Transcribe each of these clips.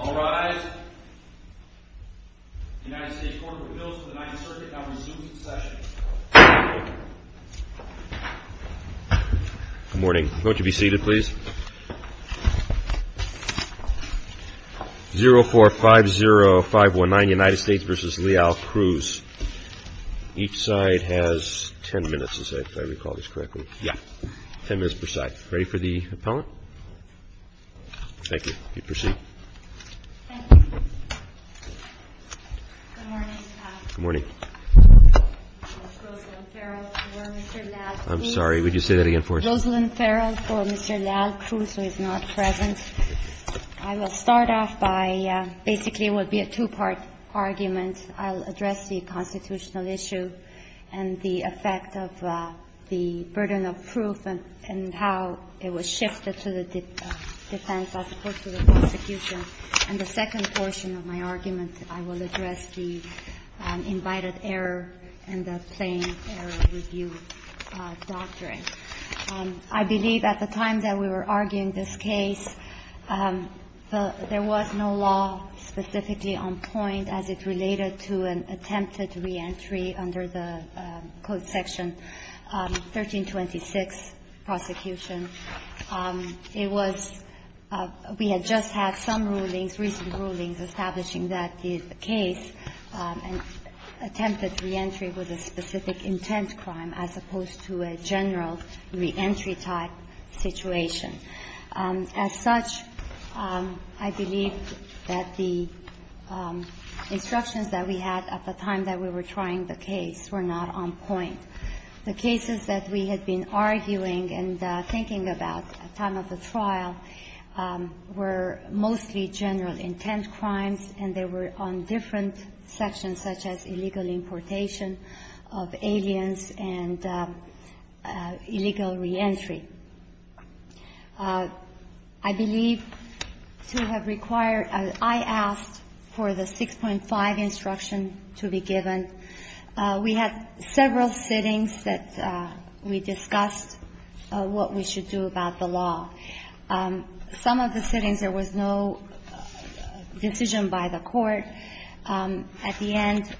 All rise. The United States Court of Appeals for the 9th Circuit now resumes its session. Good morning. Won't you be seated please? 0-4-5-0-5-1-9 United States v. LEAL-CRUZ Each side has 10 minutes if I recall this correctly. 10 minutes per side. Ready for the appellant? Thank you. You may proceed. Thank you. Good morning, Your Honor. Good morning. Ms. Rosalyn Farrell for Mr. Leal-Cruz. I'm sorry. Would you say that again for us? Rosalyn Farrell for Mr. Leal-Cruz, who is not present. I will start off by basically it will be a two-part argument. I'll address the constitutional issue and the effect of the burden of proof and how it was shifted to the defense as opposed to the prosecution. And the second portion of my argument, I will address the invited error and the plain error review doctrine. I believe at the time that we were arguing this case, there was no law specifically on point as it related to an attempted reentry under the Code section 1326 prosecution. It was we had just had some rulings, recent rulings, establishing that the case attempted reentry with a specific intent crime as opposed to a general reentry type situation. As such, I believe that the instructions that we had at the time that we were trying to determine the case were not on point. The cases that we had been arguing and thinking about at time of the trial were mostly general intent crimes, and they were on different sections such as illegal importation of aliens and illegal reentry. I believe to have required or I asked for the 6.5 instruction to be given. We had several sittings that we discussed what we should do about the law. Some of the sittings there was no decision by the court. At the end,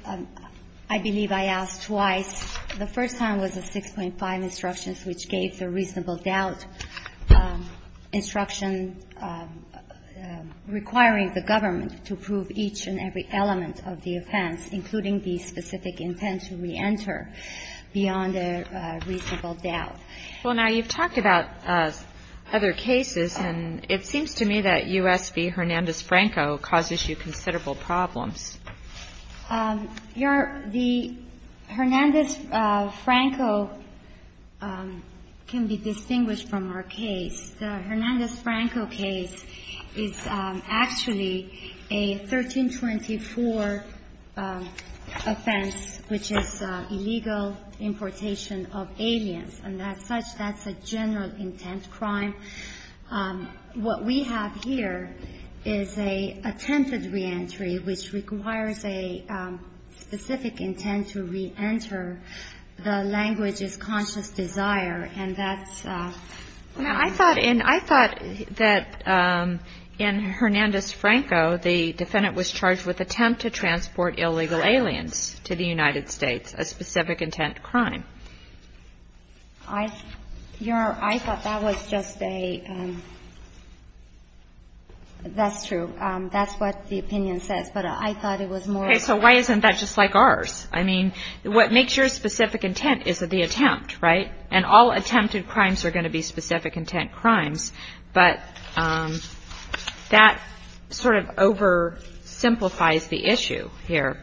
I believe I asked twice. The first time was the 6.5 instructions, which gave the reasonable doubt instruction requiring the government to prove each and every element of the offense, including the specific intent to reenter, beyond a reasonable doubt. Well, now, you've talked about other cases, and it seems to me that U.S. v. Hernandez-Franco causes you considerable problems. The Hernandez-Franco can be distinguished from our case. The Hernandez-Franco case is actually a 1324 offense, which is illegal importation of aliens, and as such, that's a general intent crime. What we have here is a attempted reentry, which requires a specific intent to reenter. The language is conscious desire, and that's the case. And I thought that in Hernandez-Franco, the defendant was charged with attempt to transport illegal aliens to the United States, a specific intent crime. I thought that was just a — that's true. That's what the opinion says. But I thought it was more — Okay. So why isn't that just like ours? I mean, what makes your specific intent is the attempt, right? And all attempted crimes are going to be specific intent crimes, but that sort of oversimplifies the issue here.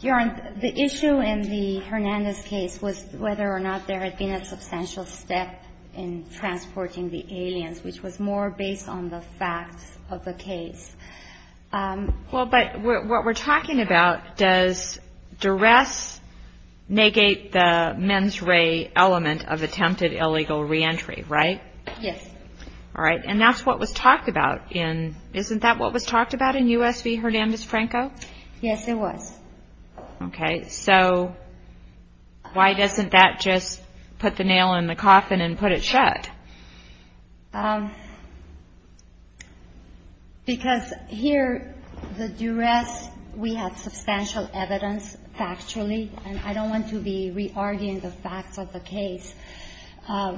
Your Honor, the issue in the Hernandez case was whether or not there had been a substantial step in transporting the aliens, which was more based on the facts of the case. Well, but what we're talking about, does duress negate the mens rea element of attempted illegal reentry, right? Yes. All right. And that's what was talked about in — isn't that what was talked about in U.S. v. Hernandez-Franco? Yes, it was. Okay. So why doesn't that just put the nail in the coffin and put it shut? Because here, the duress, we have substantial evidence factually, and I don't want to be re-arguing the facts of the case.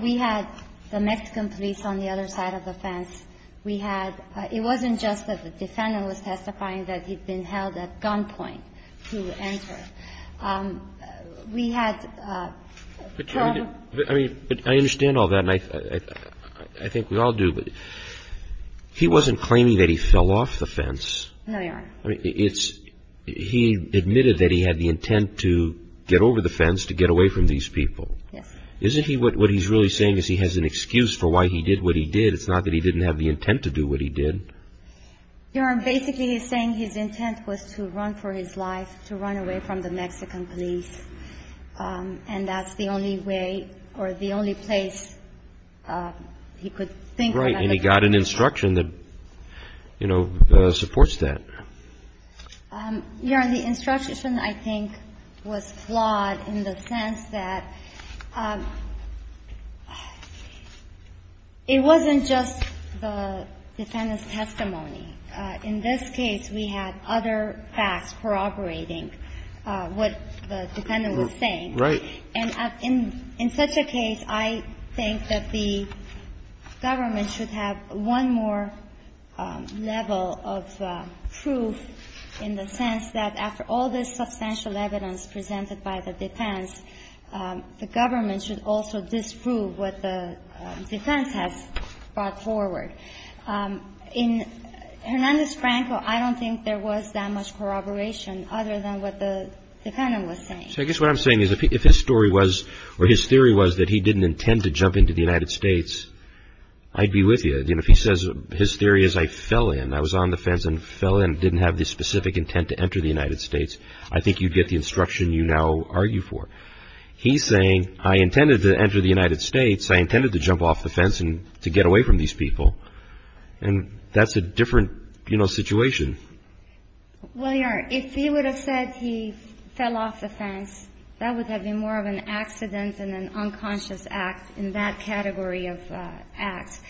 We had the Mexican police on the other side of the fence. We had — it wasn't just that the defendant was testifying that he'd been held at gunpoint to enter. We had — But I mean, I understand all that, and I think we all do, but he wasn't claiming that he fell off the fence. No, Your Honor. I mean, it's — he admitted that he had the intent to get over the fence to get away from these people. Yes. Isn't he — what he's really saying is he has an excuse for why he did what he did. It's not that he didn't have the intent to do what he did. Your Honor, basically he's saying his intent was to run for his life, to run away from the Mexican police, and that's the only way or the only place he could think about the case. Right. And he got an instruction that, you know, supports that. Your Honor, the instruction, I think, was flawed in the sense that it wasn't just the defendant's testimony. In this case, we had other facts corroborating what the defendant was saying. Right. And in such a case, I think that the government should have one more level of proof in the sense that after all this substantial evidence presented by the defense, the government should also disprove what the defense has brought forward. In Hernandez-Franco, I don't think there was that much corroboration other than what the defendant was saying. So I guess what I'm saying is if his story was — or his theory was that he didn't intend to jump into the United States, I'd be with you. You know, if he says — his theory is, I fell in, I was on the fence and fell in, didn't have the specific intent to enter the United States, I think you'd get the instruction you now argue for. He's saying, I intended to enter the United States, I intended to jump off the fence and to get away from these people. And that's a different, you know, situation. Well, Your Honor, if he would have said he fell off the fence, that would have been more of an accident and an unconscious act in that category of acts.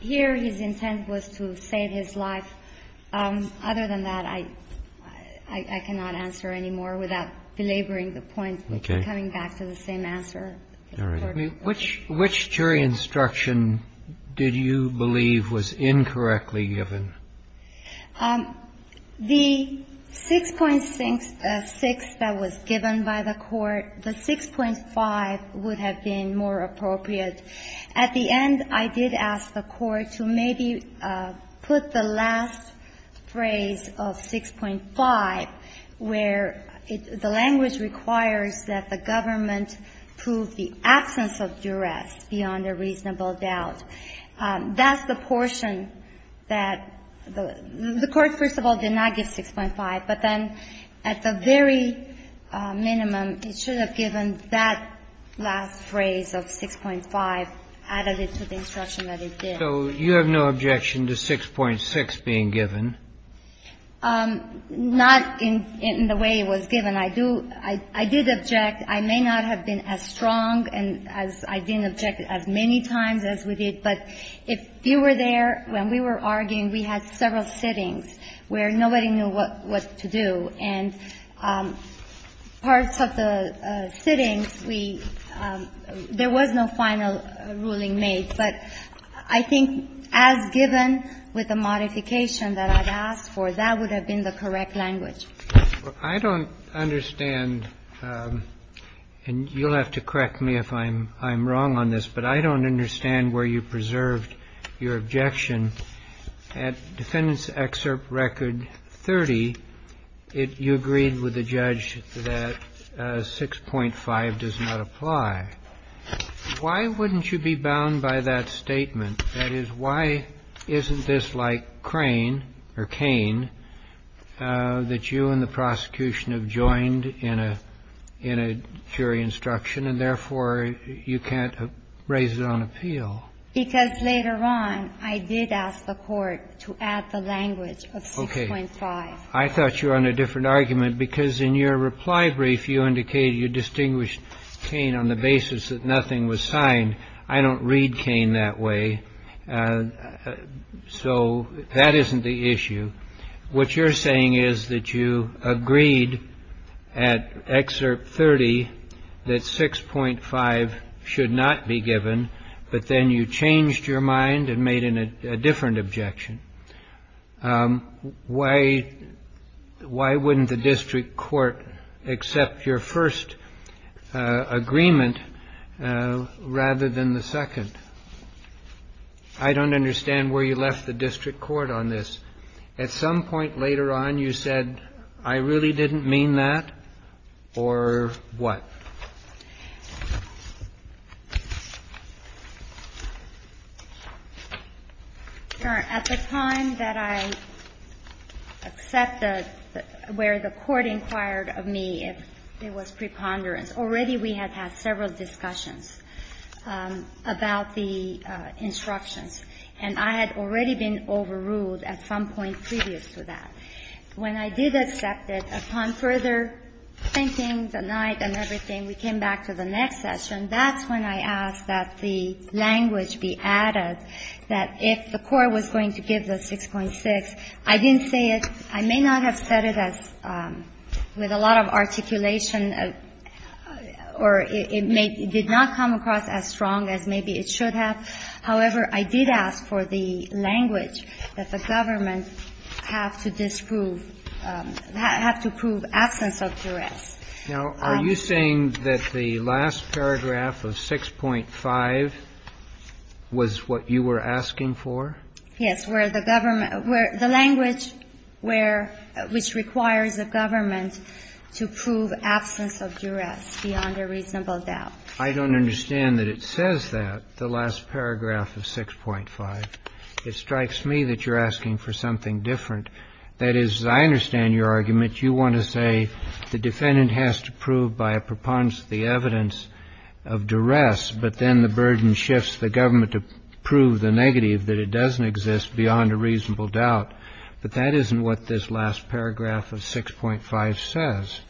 Here, his intent was to save his life. Other than that, I cannot answer any more without belaboring the point and coming back to the same answer. All right. I mean, which jury instruction did you believe was incorrectly given? The 6.6 that was given by the Court, the 6.5 would have been more appropriate. At the end, I did ask the Court to maybe put the last phrase of 6.5, where the language requires that the government prove the absence of duress beyond a reasonable doubt. That's the portion that the Court, first of all, did not give 6.5. But then at the very minimum, it should have given that last phrase of 6.5, added it to the instruction that it did. So you have no objection to 6.6 being given? Not in the way it was given. I do – I did object. I may not have been as strong and as – I didn't object as many times as we did. But if you were there when we were arguing, we had several sittings where nobody knew what to do, and parts of the sittings, we – there was no final ruling made. But I think as given with the modification that I've asked for, that would have been the correct language. I don't understand, and you'll have to correct me if I'm wrong on this, but I don't understand where you preserved your objection. At Defendant's Excerpt Record 30, you agreed with the judge that 6.5 does not apply. Why wouldn't you be bound by that statement? That is, why isn't this like Crane or Cain that you and the prosecution have joined in a jury instruction, and therefore you can't raise it on appeal? Because later on, I did ask the Court to add the language of 6.5. Okay. I thought you were on a different argument, because in your reply brief, you indicated you distinguished Cain on the basis that nothing was signed. I don't read Cain that way, so that isn't the issue. What you're saying is that you agreed at Excerpt 30 that 6.5 should not be given, but then you changed your mind and made a different objection. Why wouldn't the district court accept your first agreement rather than the second? I don't understand where you left the district court on this. At some point later on, you said, I really didn't mean that, or what? At the time that I accepted, where the Court inquired of me if there was preponderance, already we had had several discussions about the instructions, and I had already been overruled at some point previous to that. When I did accept it, upon further thinking the night and everything, we came back to the next session. That's when I asked that the language be added, that if the Court was going to give the 6.6, I didn't say it. I may not have said it as with a lot of articulation, or it may be did not come across as strong as maybe it should have. However, I did ask for the language that the government have to disprove, have to prove absence of duress. Now, are you saying that the last paragraph of 6.5 was what you were asking for? Yes, where the government – where the language where – which requires a government to prove absence of duress beyond a reasonable doubt. I don't understand that it says that, the last paragraph of 6.5. It strikes me that you're asking for something different. That is, I understand your argument. You want to say the defendant has to prove by a preponderance the evidence of duress, but then the burden shifts the government to prove the negative, that it doesn't exist beyond a reasonable doubt. But that isn't what this last paragraph of 6.5 says.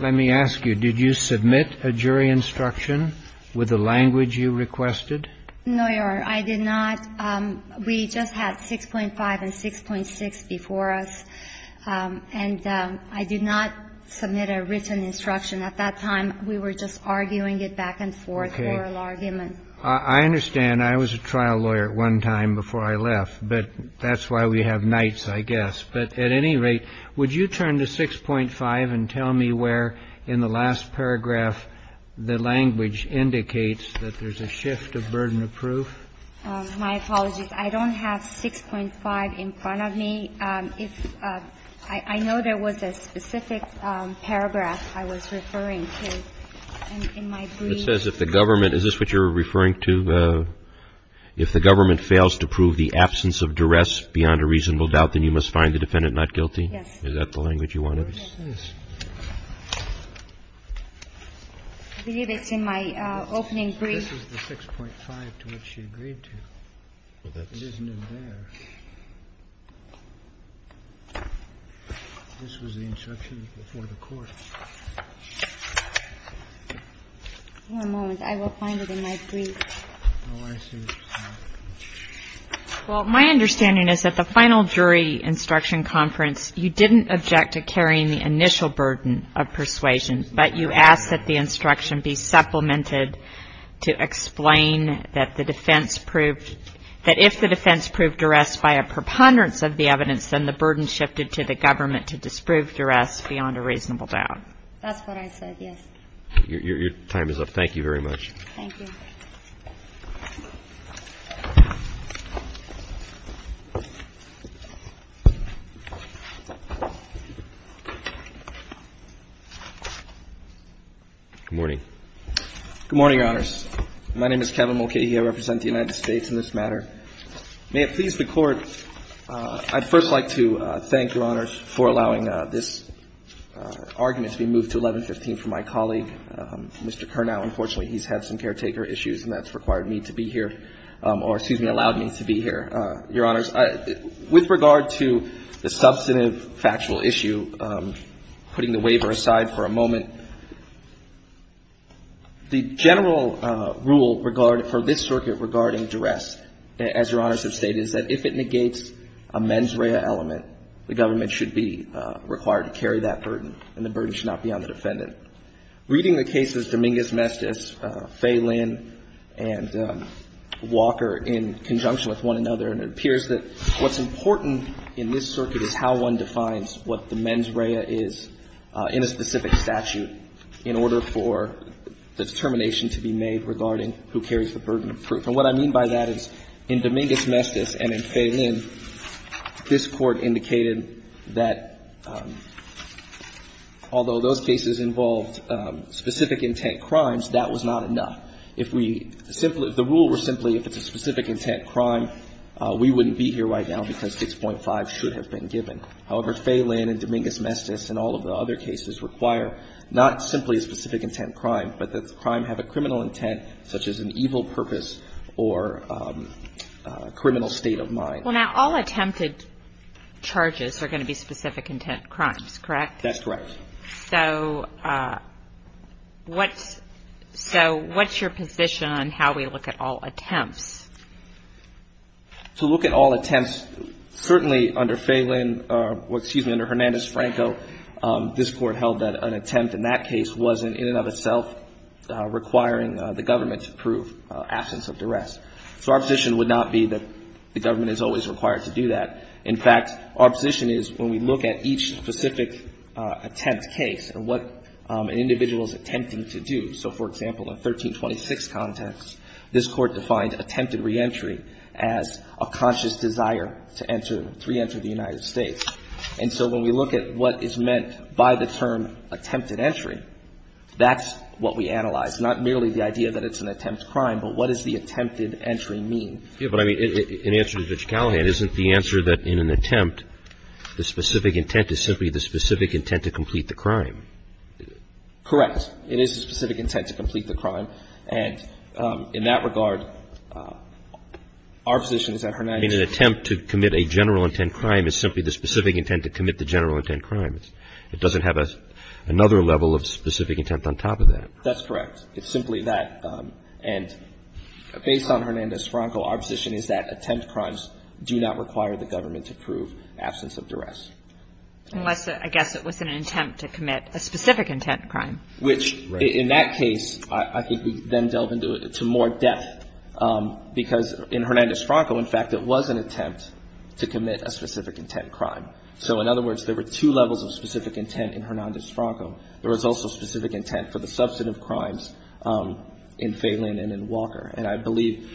Let me ask you. Did you submit a jury instruction with the language you requested? No, Your Honor. I did not. We just had 6.5 and 6.6 before us, and I did not submit a written instruction. At that time, we were just arguing it back and forth, oral argument. Okay. I understand. I was a trial lawyer at one time before I left, but that's why we have nights, I guess. But at any rate, would you turn to 6.5 and tell me where in the last paragraph the language indicates that there's a shift of burden of proof? My apologies. I don't have 6.5 in front of me. I know there was a specific paragraph I was referring to in my brief. It says if the government, is this what you're referring to? If the government fails to prove the absence of duress beyond a reasonable doubt, then you must find the defendant not guilty. Yes. Is that the language you wanted? I believe it's in my opening brief. This is the 6.5 to which she agreed to. It isn't in there. This was the instruction before the court. One moment. I will find it in my brief. Oh, I see. Well, my understanding is that the final jury instruction conference, you didn't object to carrying the initial burden of persuasion, but you asked that the instruction be supplemented to explain that the defense proved that if the defense proved duress by a preponderance of the evidence, then the burden shifted to the government to disprove duress beyond a reasonable doubt. That's what I said, yes. Your time is up. Thank you very much. Thank you. Good morning. Good morning, Your Honors. My name is Kevin Mulcahy. I represent the United States in this matter. May it please the Court, I'd first like to thank Your Honors for allowing this argument to be moved to 1115 from my colleague, Mr. Kernow. Unfortunately, he's had some caretaker issues, and that's required me to be here or, excuse me, allowed me to be here, Your Honors. With regard to the substantive factual issue, putting the waiver aside for a moment, the general rule for this circuit regarding duress, as Your Honors have stated, is that if it negates a mens rea element, the government should be required to carry that burden, and the burden should not be on the defendant. Reading the cases Dominguez-Mestiz, Fay Lynn, and Walker in conjunction with one another, and it appears that what's important in this circuit is how one defines what the mens rea is in a specific statute in order for the determination to be made regarding who carries the burden of proof. And what I mean by that is in Dominguez-Mestiz and in Fay Lynn, this Court indicated that although those cases involved specific intent crimes, that was not enough. If we simply – if the rule were simply if it's a specific intent crime, we wouldn't be here right now because 6.5 should have been given. However, Fay Lynn and Dominguez-Mestiz and all of the other cases require not simply a specific intent crime, but that the crime have a criminal intent such as an evil purpose or criminal state of mind. Well, now, all attempted charges are going to be specific intent crimes, correct? That's correct. So what's your position on how we look at all attempts? To look at all attempts, certainly under Fay Lynn – excuse me, under Hernandez-Franco, this Court held that an attempt in that case wasn't in and of itself requiring the government to prove absence of duress. So our position would not be that the government is always required to do that. In fact, our position is when we look at each specific attempt case and what an individual is attempting to do. So, for example, in 1326 context, this Court defined attempted reentry as a conscious desire to enter – to reenter the United States. And so when we look at what is meant by the term attempted entry, that's what we analyze, that's not merely the idea that it's an attempt crime, but what does the attempted entry mean? Yes, but I mean, in answer to Judge Callahan, isn't the answer that in an attempt, the specific intent is simply the specific intent to complete the crime? Correct. It is the specific intent to complete the crime. And in that regard, our position is that Hernandez – In an attempt to commit a general intent crime is simply the specific intent to commit the general intent crime. It doesn't have another level of specific intent on top of that. That's correct. It's simply that. And based on Hernandez-Franco, our position is that attempt crimes do not require the government to prove absence of duress. Unless, I guess, it was an attempt to commit a specific intent crime. Which, in that case, I think we then delve into it to more depth, because in Hernandez-Franco, in fact, it was an attempt to commit a specific intent crime. So, in other words, there were two levels of specific intent in Hernandez-Franco. There was also specific intent for the substantive crimes in Phelan and in Walker. And I believe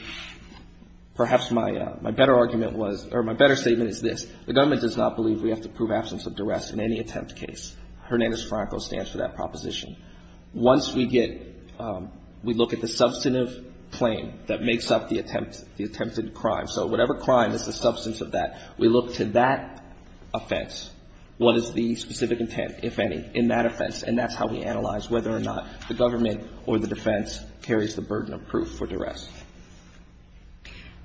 perhaps my better argument was – or my better statement is this. The government does not believe we have to prove absence of duress in any attempt case. Hernandez-Franco stands for that proposition. Once we get – we look at the substantive claim that makes up the attempted crime. So whatever crime is the substance of that, we look to that offense. What is the specific intent, if any, in that offense? And that's how we analyze whether or not the government or the defense carries the burden of proof for duress.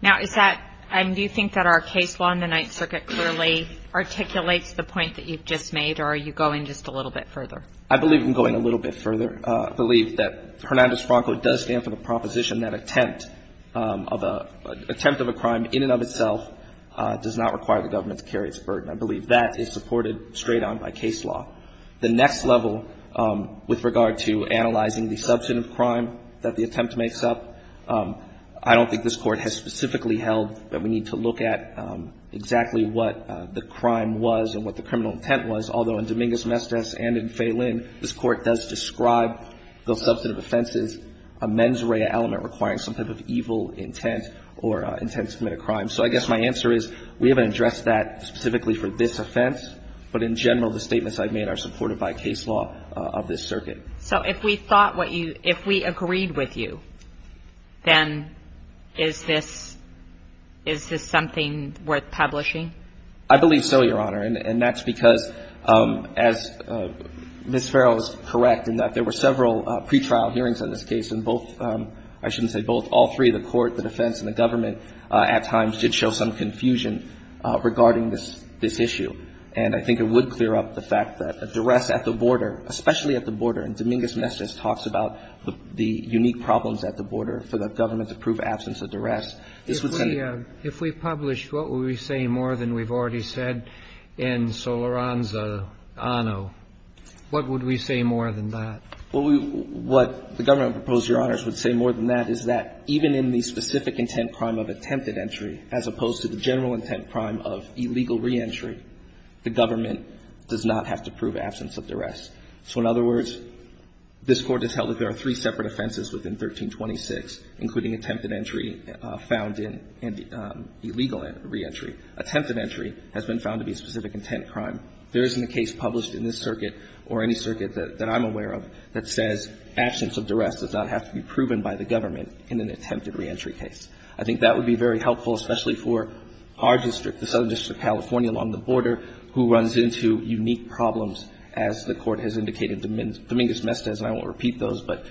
Now, is that – do you think that our case law in the Ninth Circuit clearly articulates the point that you've just made, or are you going just a little bit further? I believe I'm going a little bit further. I believe that Hernandez-Franco does stand for the proposition that attempt of a – attempt of a crime in and of itself does not require the government to carry its burden. I believe that is supported straight on by case law. The next level with regard to analyzing the substantive crime that the attempt makes up, I don't think this Court has specifically held that we need to look at exactly what the crime was and what the criminal intent was, although in Dominguez-Mestez and in Fay Lynn this Court does describe those substantive offenses a mens rea element requiring some type of evil intent or intent to commit a crime. So I guess my answer is we haven't addressed that specifically for this offense, but in general the statements I've made are supported by case law of this circuit. So if we thought what you – if we agreed with you, then is this – is this something worth publishing? I believe so, Your Honor, and that's because, as Ms. Farrell is correct, in that there were several pretrial hearings on this case, and both – I shouldn't say both. All three, the Court, the defense, and the government at times did show some confusion regarding this issue. And I think it would clear up the fact that a duress at the border, especially at the border, and Dominguez-Mestez talks about the unique problems at the border for the government to prove absence of duress. This would say – If we – if we publish what would we say more than we've already said in Soloranza-Anno, what would we say more than that? What we – what the government proposed, Your Honors, would say more than that is that even in the specific intent crime of attempted entry as opposed to the general intent crime of illegal reentry, the government does not have to prove absence of duress. So in other words, this Court has held that there are three separate offenses within 1326, including attempted entry found in illegal reentry. Attempted entry has been found to be a specific intent crime. There isn't a case published in this circuit or any circuit that I'm aware of that says absence of duress does not have to be proven by the government in an attempted reentry case. I think that would be very helpful, especially for our district, the Southern District of California, along the border, who runs into unique problems, as the Court has indicated, Dominguez-Mestez. And I won't repeat those, but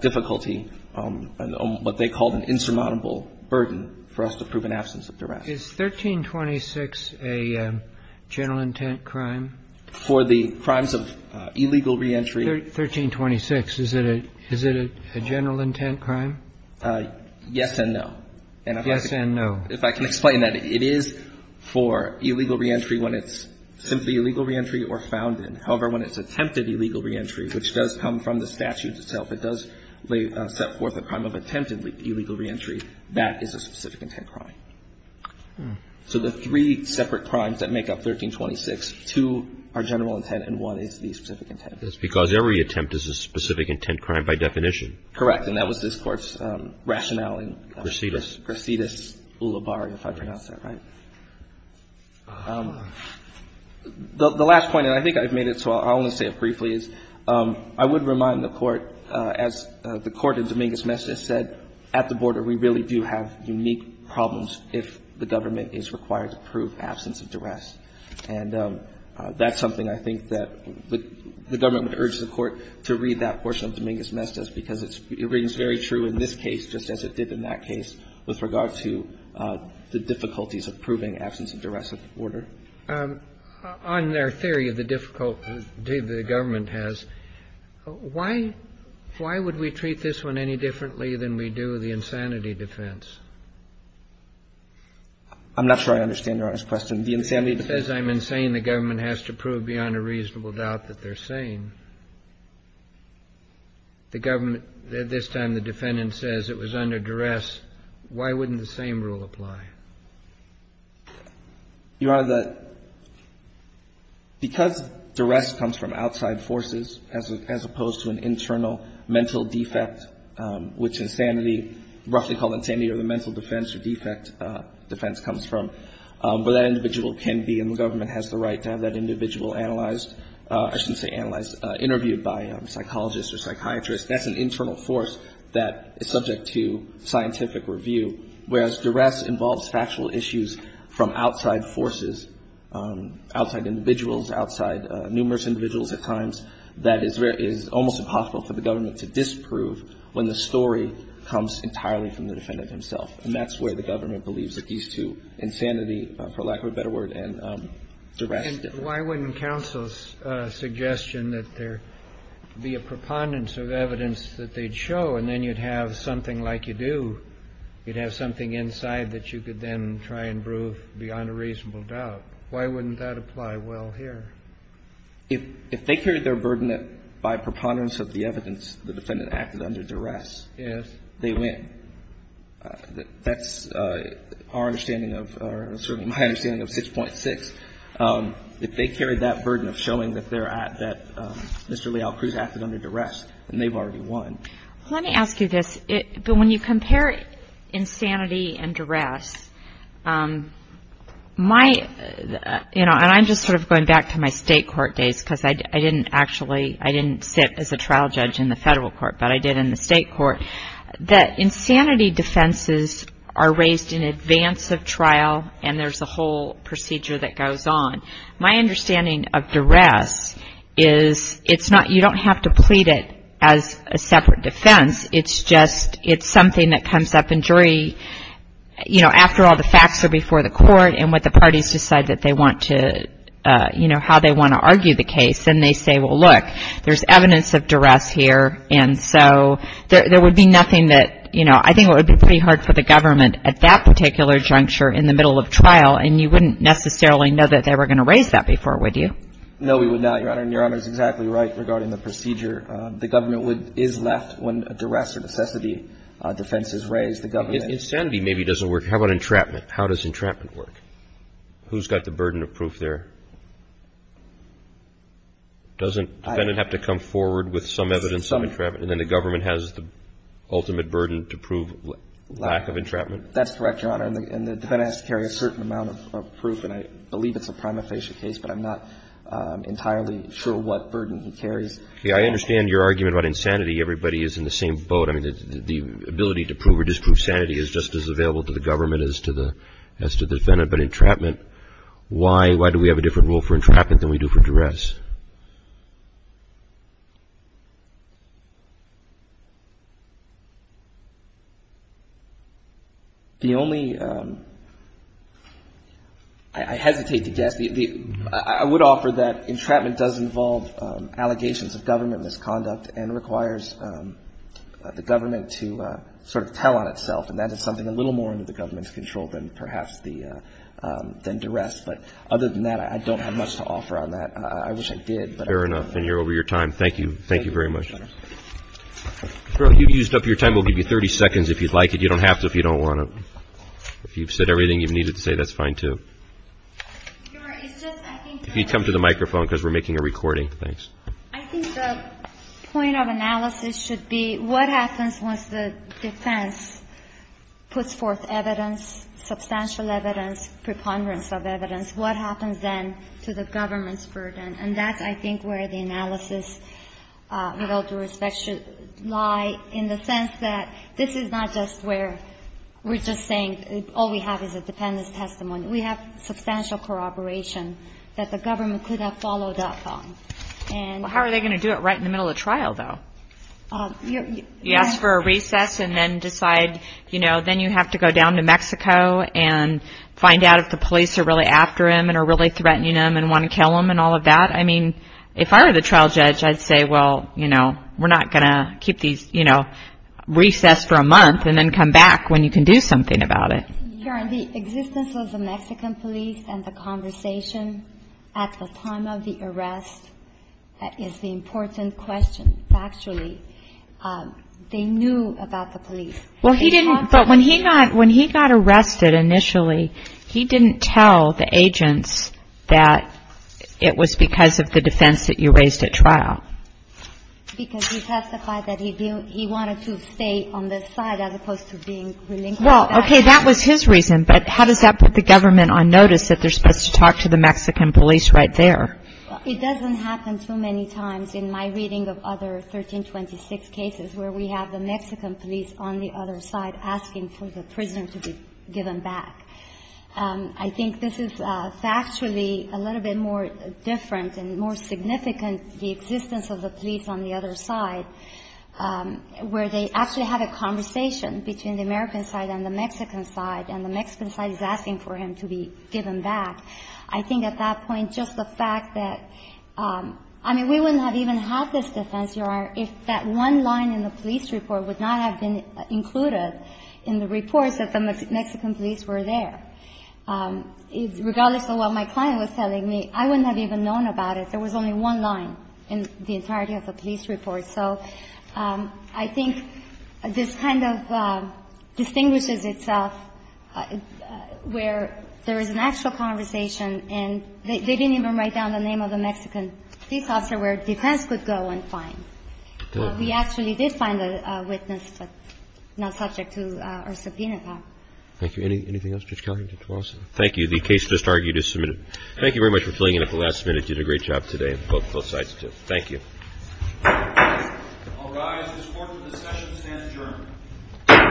difficulty on what they called an insurmountable burden for us to prove an absence of duress. Is 1326 a general intent crime? For the crimes of illegal reentry. 1326, is it a – is it a general intent crime? Yes and no. Yes and no. If I can explain that. It is for illegal reentry when it's simply illegal reentry or found in. However, when it's attempted illegal reentry, which does come from the statute itself, it does set forth a crime of attempted illegal reentry, that is a specific intent crime. So the three separate crimes that make up 1326, two are general intent and one is the specific intent. That's because every attempt is a specific intent crime by definition. Correct. And that was this Court's rationale in. Grisidis. Grisidis-Ula Barri, if I pronounced that right. The last point, and I think I've made it, so I'll only say it briefly, is I would remind the Court, as the Court in Dominguez-Mestez said, at the border, we really do have unique problems if the government is required to prove absence of duress. And that's something I think that the government would urge the Court to read that is very true in this case, just as it did in that case with regard to the difficulties of proving absence of duress at the border. On their theory of the difficulty the government has, why would we treat this one any differently than we do the insanity defense? I'm not sure I understand Your Honor's question. The insanity defense. It says I'm insane. The government has to prove beyond a reasonable doubt that they're sane. The government at this time, the defendant says it was under duress. Why wouldn't the same rule apply? Your Honor, the — because duress comes from outside forces as opposed to an internal mental defect, which insanity, roughly called insanity or the mental defense or defect defense comes from, where that individual can be and the government has the right to have that individual analyzed or I shouldn't say analyzed, interviewed by a psychologist or psychiatrist. That's an internal force that is subject to scientific review, whereas duress involves factual issues from outside forces, outside individuals, outside numerous individuals at times, that is almost impossible for the government to disprove when the story comes entirely from the defendant himself. And that's where the government believes that these two, insanity, for lack of a better word, and duress differ. And why wouldn't counsel's suggestion that there be a preponderance of evidence that they'd show and then you'd have something like you do, you'd have something inside that you could then try and prove beyond a reasonable doubt? Why wouldn't that apply well here? If they carried their burden by preponderance of the evidence, the defendant acted under duress. They win. That's our understanding of, or certainly my understanding of 6.6. If they carried that burden of showing that they're at, that Mr. Leal Cruz acted under duress, then they've already won. Let me ask you this. When you compare insanity and duress, my, you know, and I'm just sort of going back to my state court days because I didn't actually, I didn't sit as a trial judge in the federal court but I did in the state court, that insanity defenses are raised in advance of trial and there's a whole procedure that goes on. My understanding of duress is it's not, you don't have to plead it as a separate defense. It's just, it's something that comes up in jury, you know, after all the facts are before the court and what the parties decide that they want to, you know, how they want to argue the case. And they say, well, look, there's evidence of duress here and so there would be nothing that, you know, I think it would be pretty hard for the government at that particular juncture in the middle of trial and you wouldn't necessarily know that they were going to raise that before, would you? No, we would not, Your Honor. And Your Honor is exactly right regarding the procedure. The government would, is left when a duress or necessity defense is raised, the government Insanity maybe doesn't work. How about entrapment? How does entrapment work? Who's got the burden of proof there? Doesn't defendant have to come forward with some evidence of entrapment and then the government has the ultimate burden to prove lack of entrapment? That's correct, Your Honor. And the defendant has to carry a certain amount of proof and I believe it's a prima facie case, but I'm not entirely sure what burden he carries. I understand your argument about insanity. Everybody is in the same boat. I mean, the ability to prove or disprove sanity is just as available to the government as to the defendant. But entrapment, why do we have a different rule for entrapment than we do for duress? The only, I hesitate to guess, I would offer that entrapment does involve allegations of government misconduct and requires the government to sort of tell on itself and that is something a little more under the government's control than perhaps the duress. But other than that, I don't have much to offer on that. I wish I did. Fair enough. And you're over your time. Thank you. Thank you very much. Your Honor. You've used up your time. We'll give you 30 seconds if you'd like it. You don't have to if you don't want to. If you've said everything you needed to say, that's fine, too. Your Honor, it's just, I think... If you'd come to the microphone because we're making a recording. Thanks. I think the point of analysis should be what happens once the defense puts forth evidence, substantial evidence, preponderance of evidence, what happens then to the government's burden. And that's, I think, where the analysis, with all due respect, should lie in the sense that this is not just where we're just saying all we have is a defendant's testimony. We have substantial corroboration that the government could have followed up on. Well, how are they going to do it right in the middle of trial, though? You ask for a recess and then decide, you know, then you have to go down to Mexico and find out if the police are really after him and are really threatening him and want to kill him and all of that. I mean, if I were the trial judge, I'd say, well, you know, we're not going to keep these, you know, recess for a month and then come back when you can do something about it. Your Honor, the existence of the Mexican police and the conversation at the time of the arrest is the important question, factually. They knew about the police. Well, he didn't. But when he got arrested initially, he didn't tell the agents that it was because of the defense that you raised at trial. Because he testified that he wanted to stay on the side as opposed to being relinquished. Well, okay, that was his reason, but how does that put the government on notice that they're supposed to talk to the Mexican police right there? Well, it doesn't happen too many times in my reading of other 1326 cases where we have the Mexican police on the other side asking for the prisoner to be given back. I think this is factually a little bit more different and more significant, the existence of the police on the other side, where they actually have a conversation between the American side and the Mexican side, and the Mexican side is asking for him to be given back. I think at that point, just the fact that, I mean, we wouldn't have even had this defense, Your Honor, if that one line in the police report would not have been included in the reports that the Mexican police were there. Regardless of what my client was telling me, I wouldn't have even known about it. There was only one line in the entirety of the police report. So I think this kind of distinguishes itself where there is an actual conversation and they didn't even write down the name of the Mexican police officer where defense could go and find. We actually did find a witness, but not subject to our subpoena. Thank you. Anything else, Judge Kelly? Thank you. The case just argued is submitted. Thank you very much for filling in at the last minute. You did a great job today, both sides, too. Thank you. I'll rise. This court for discussion stands adjourned.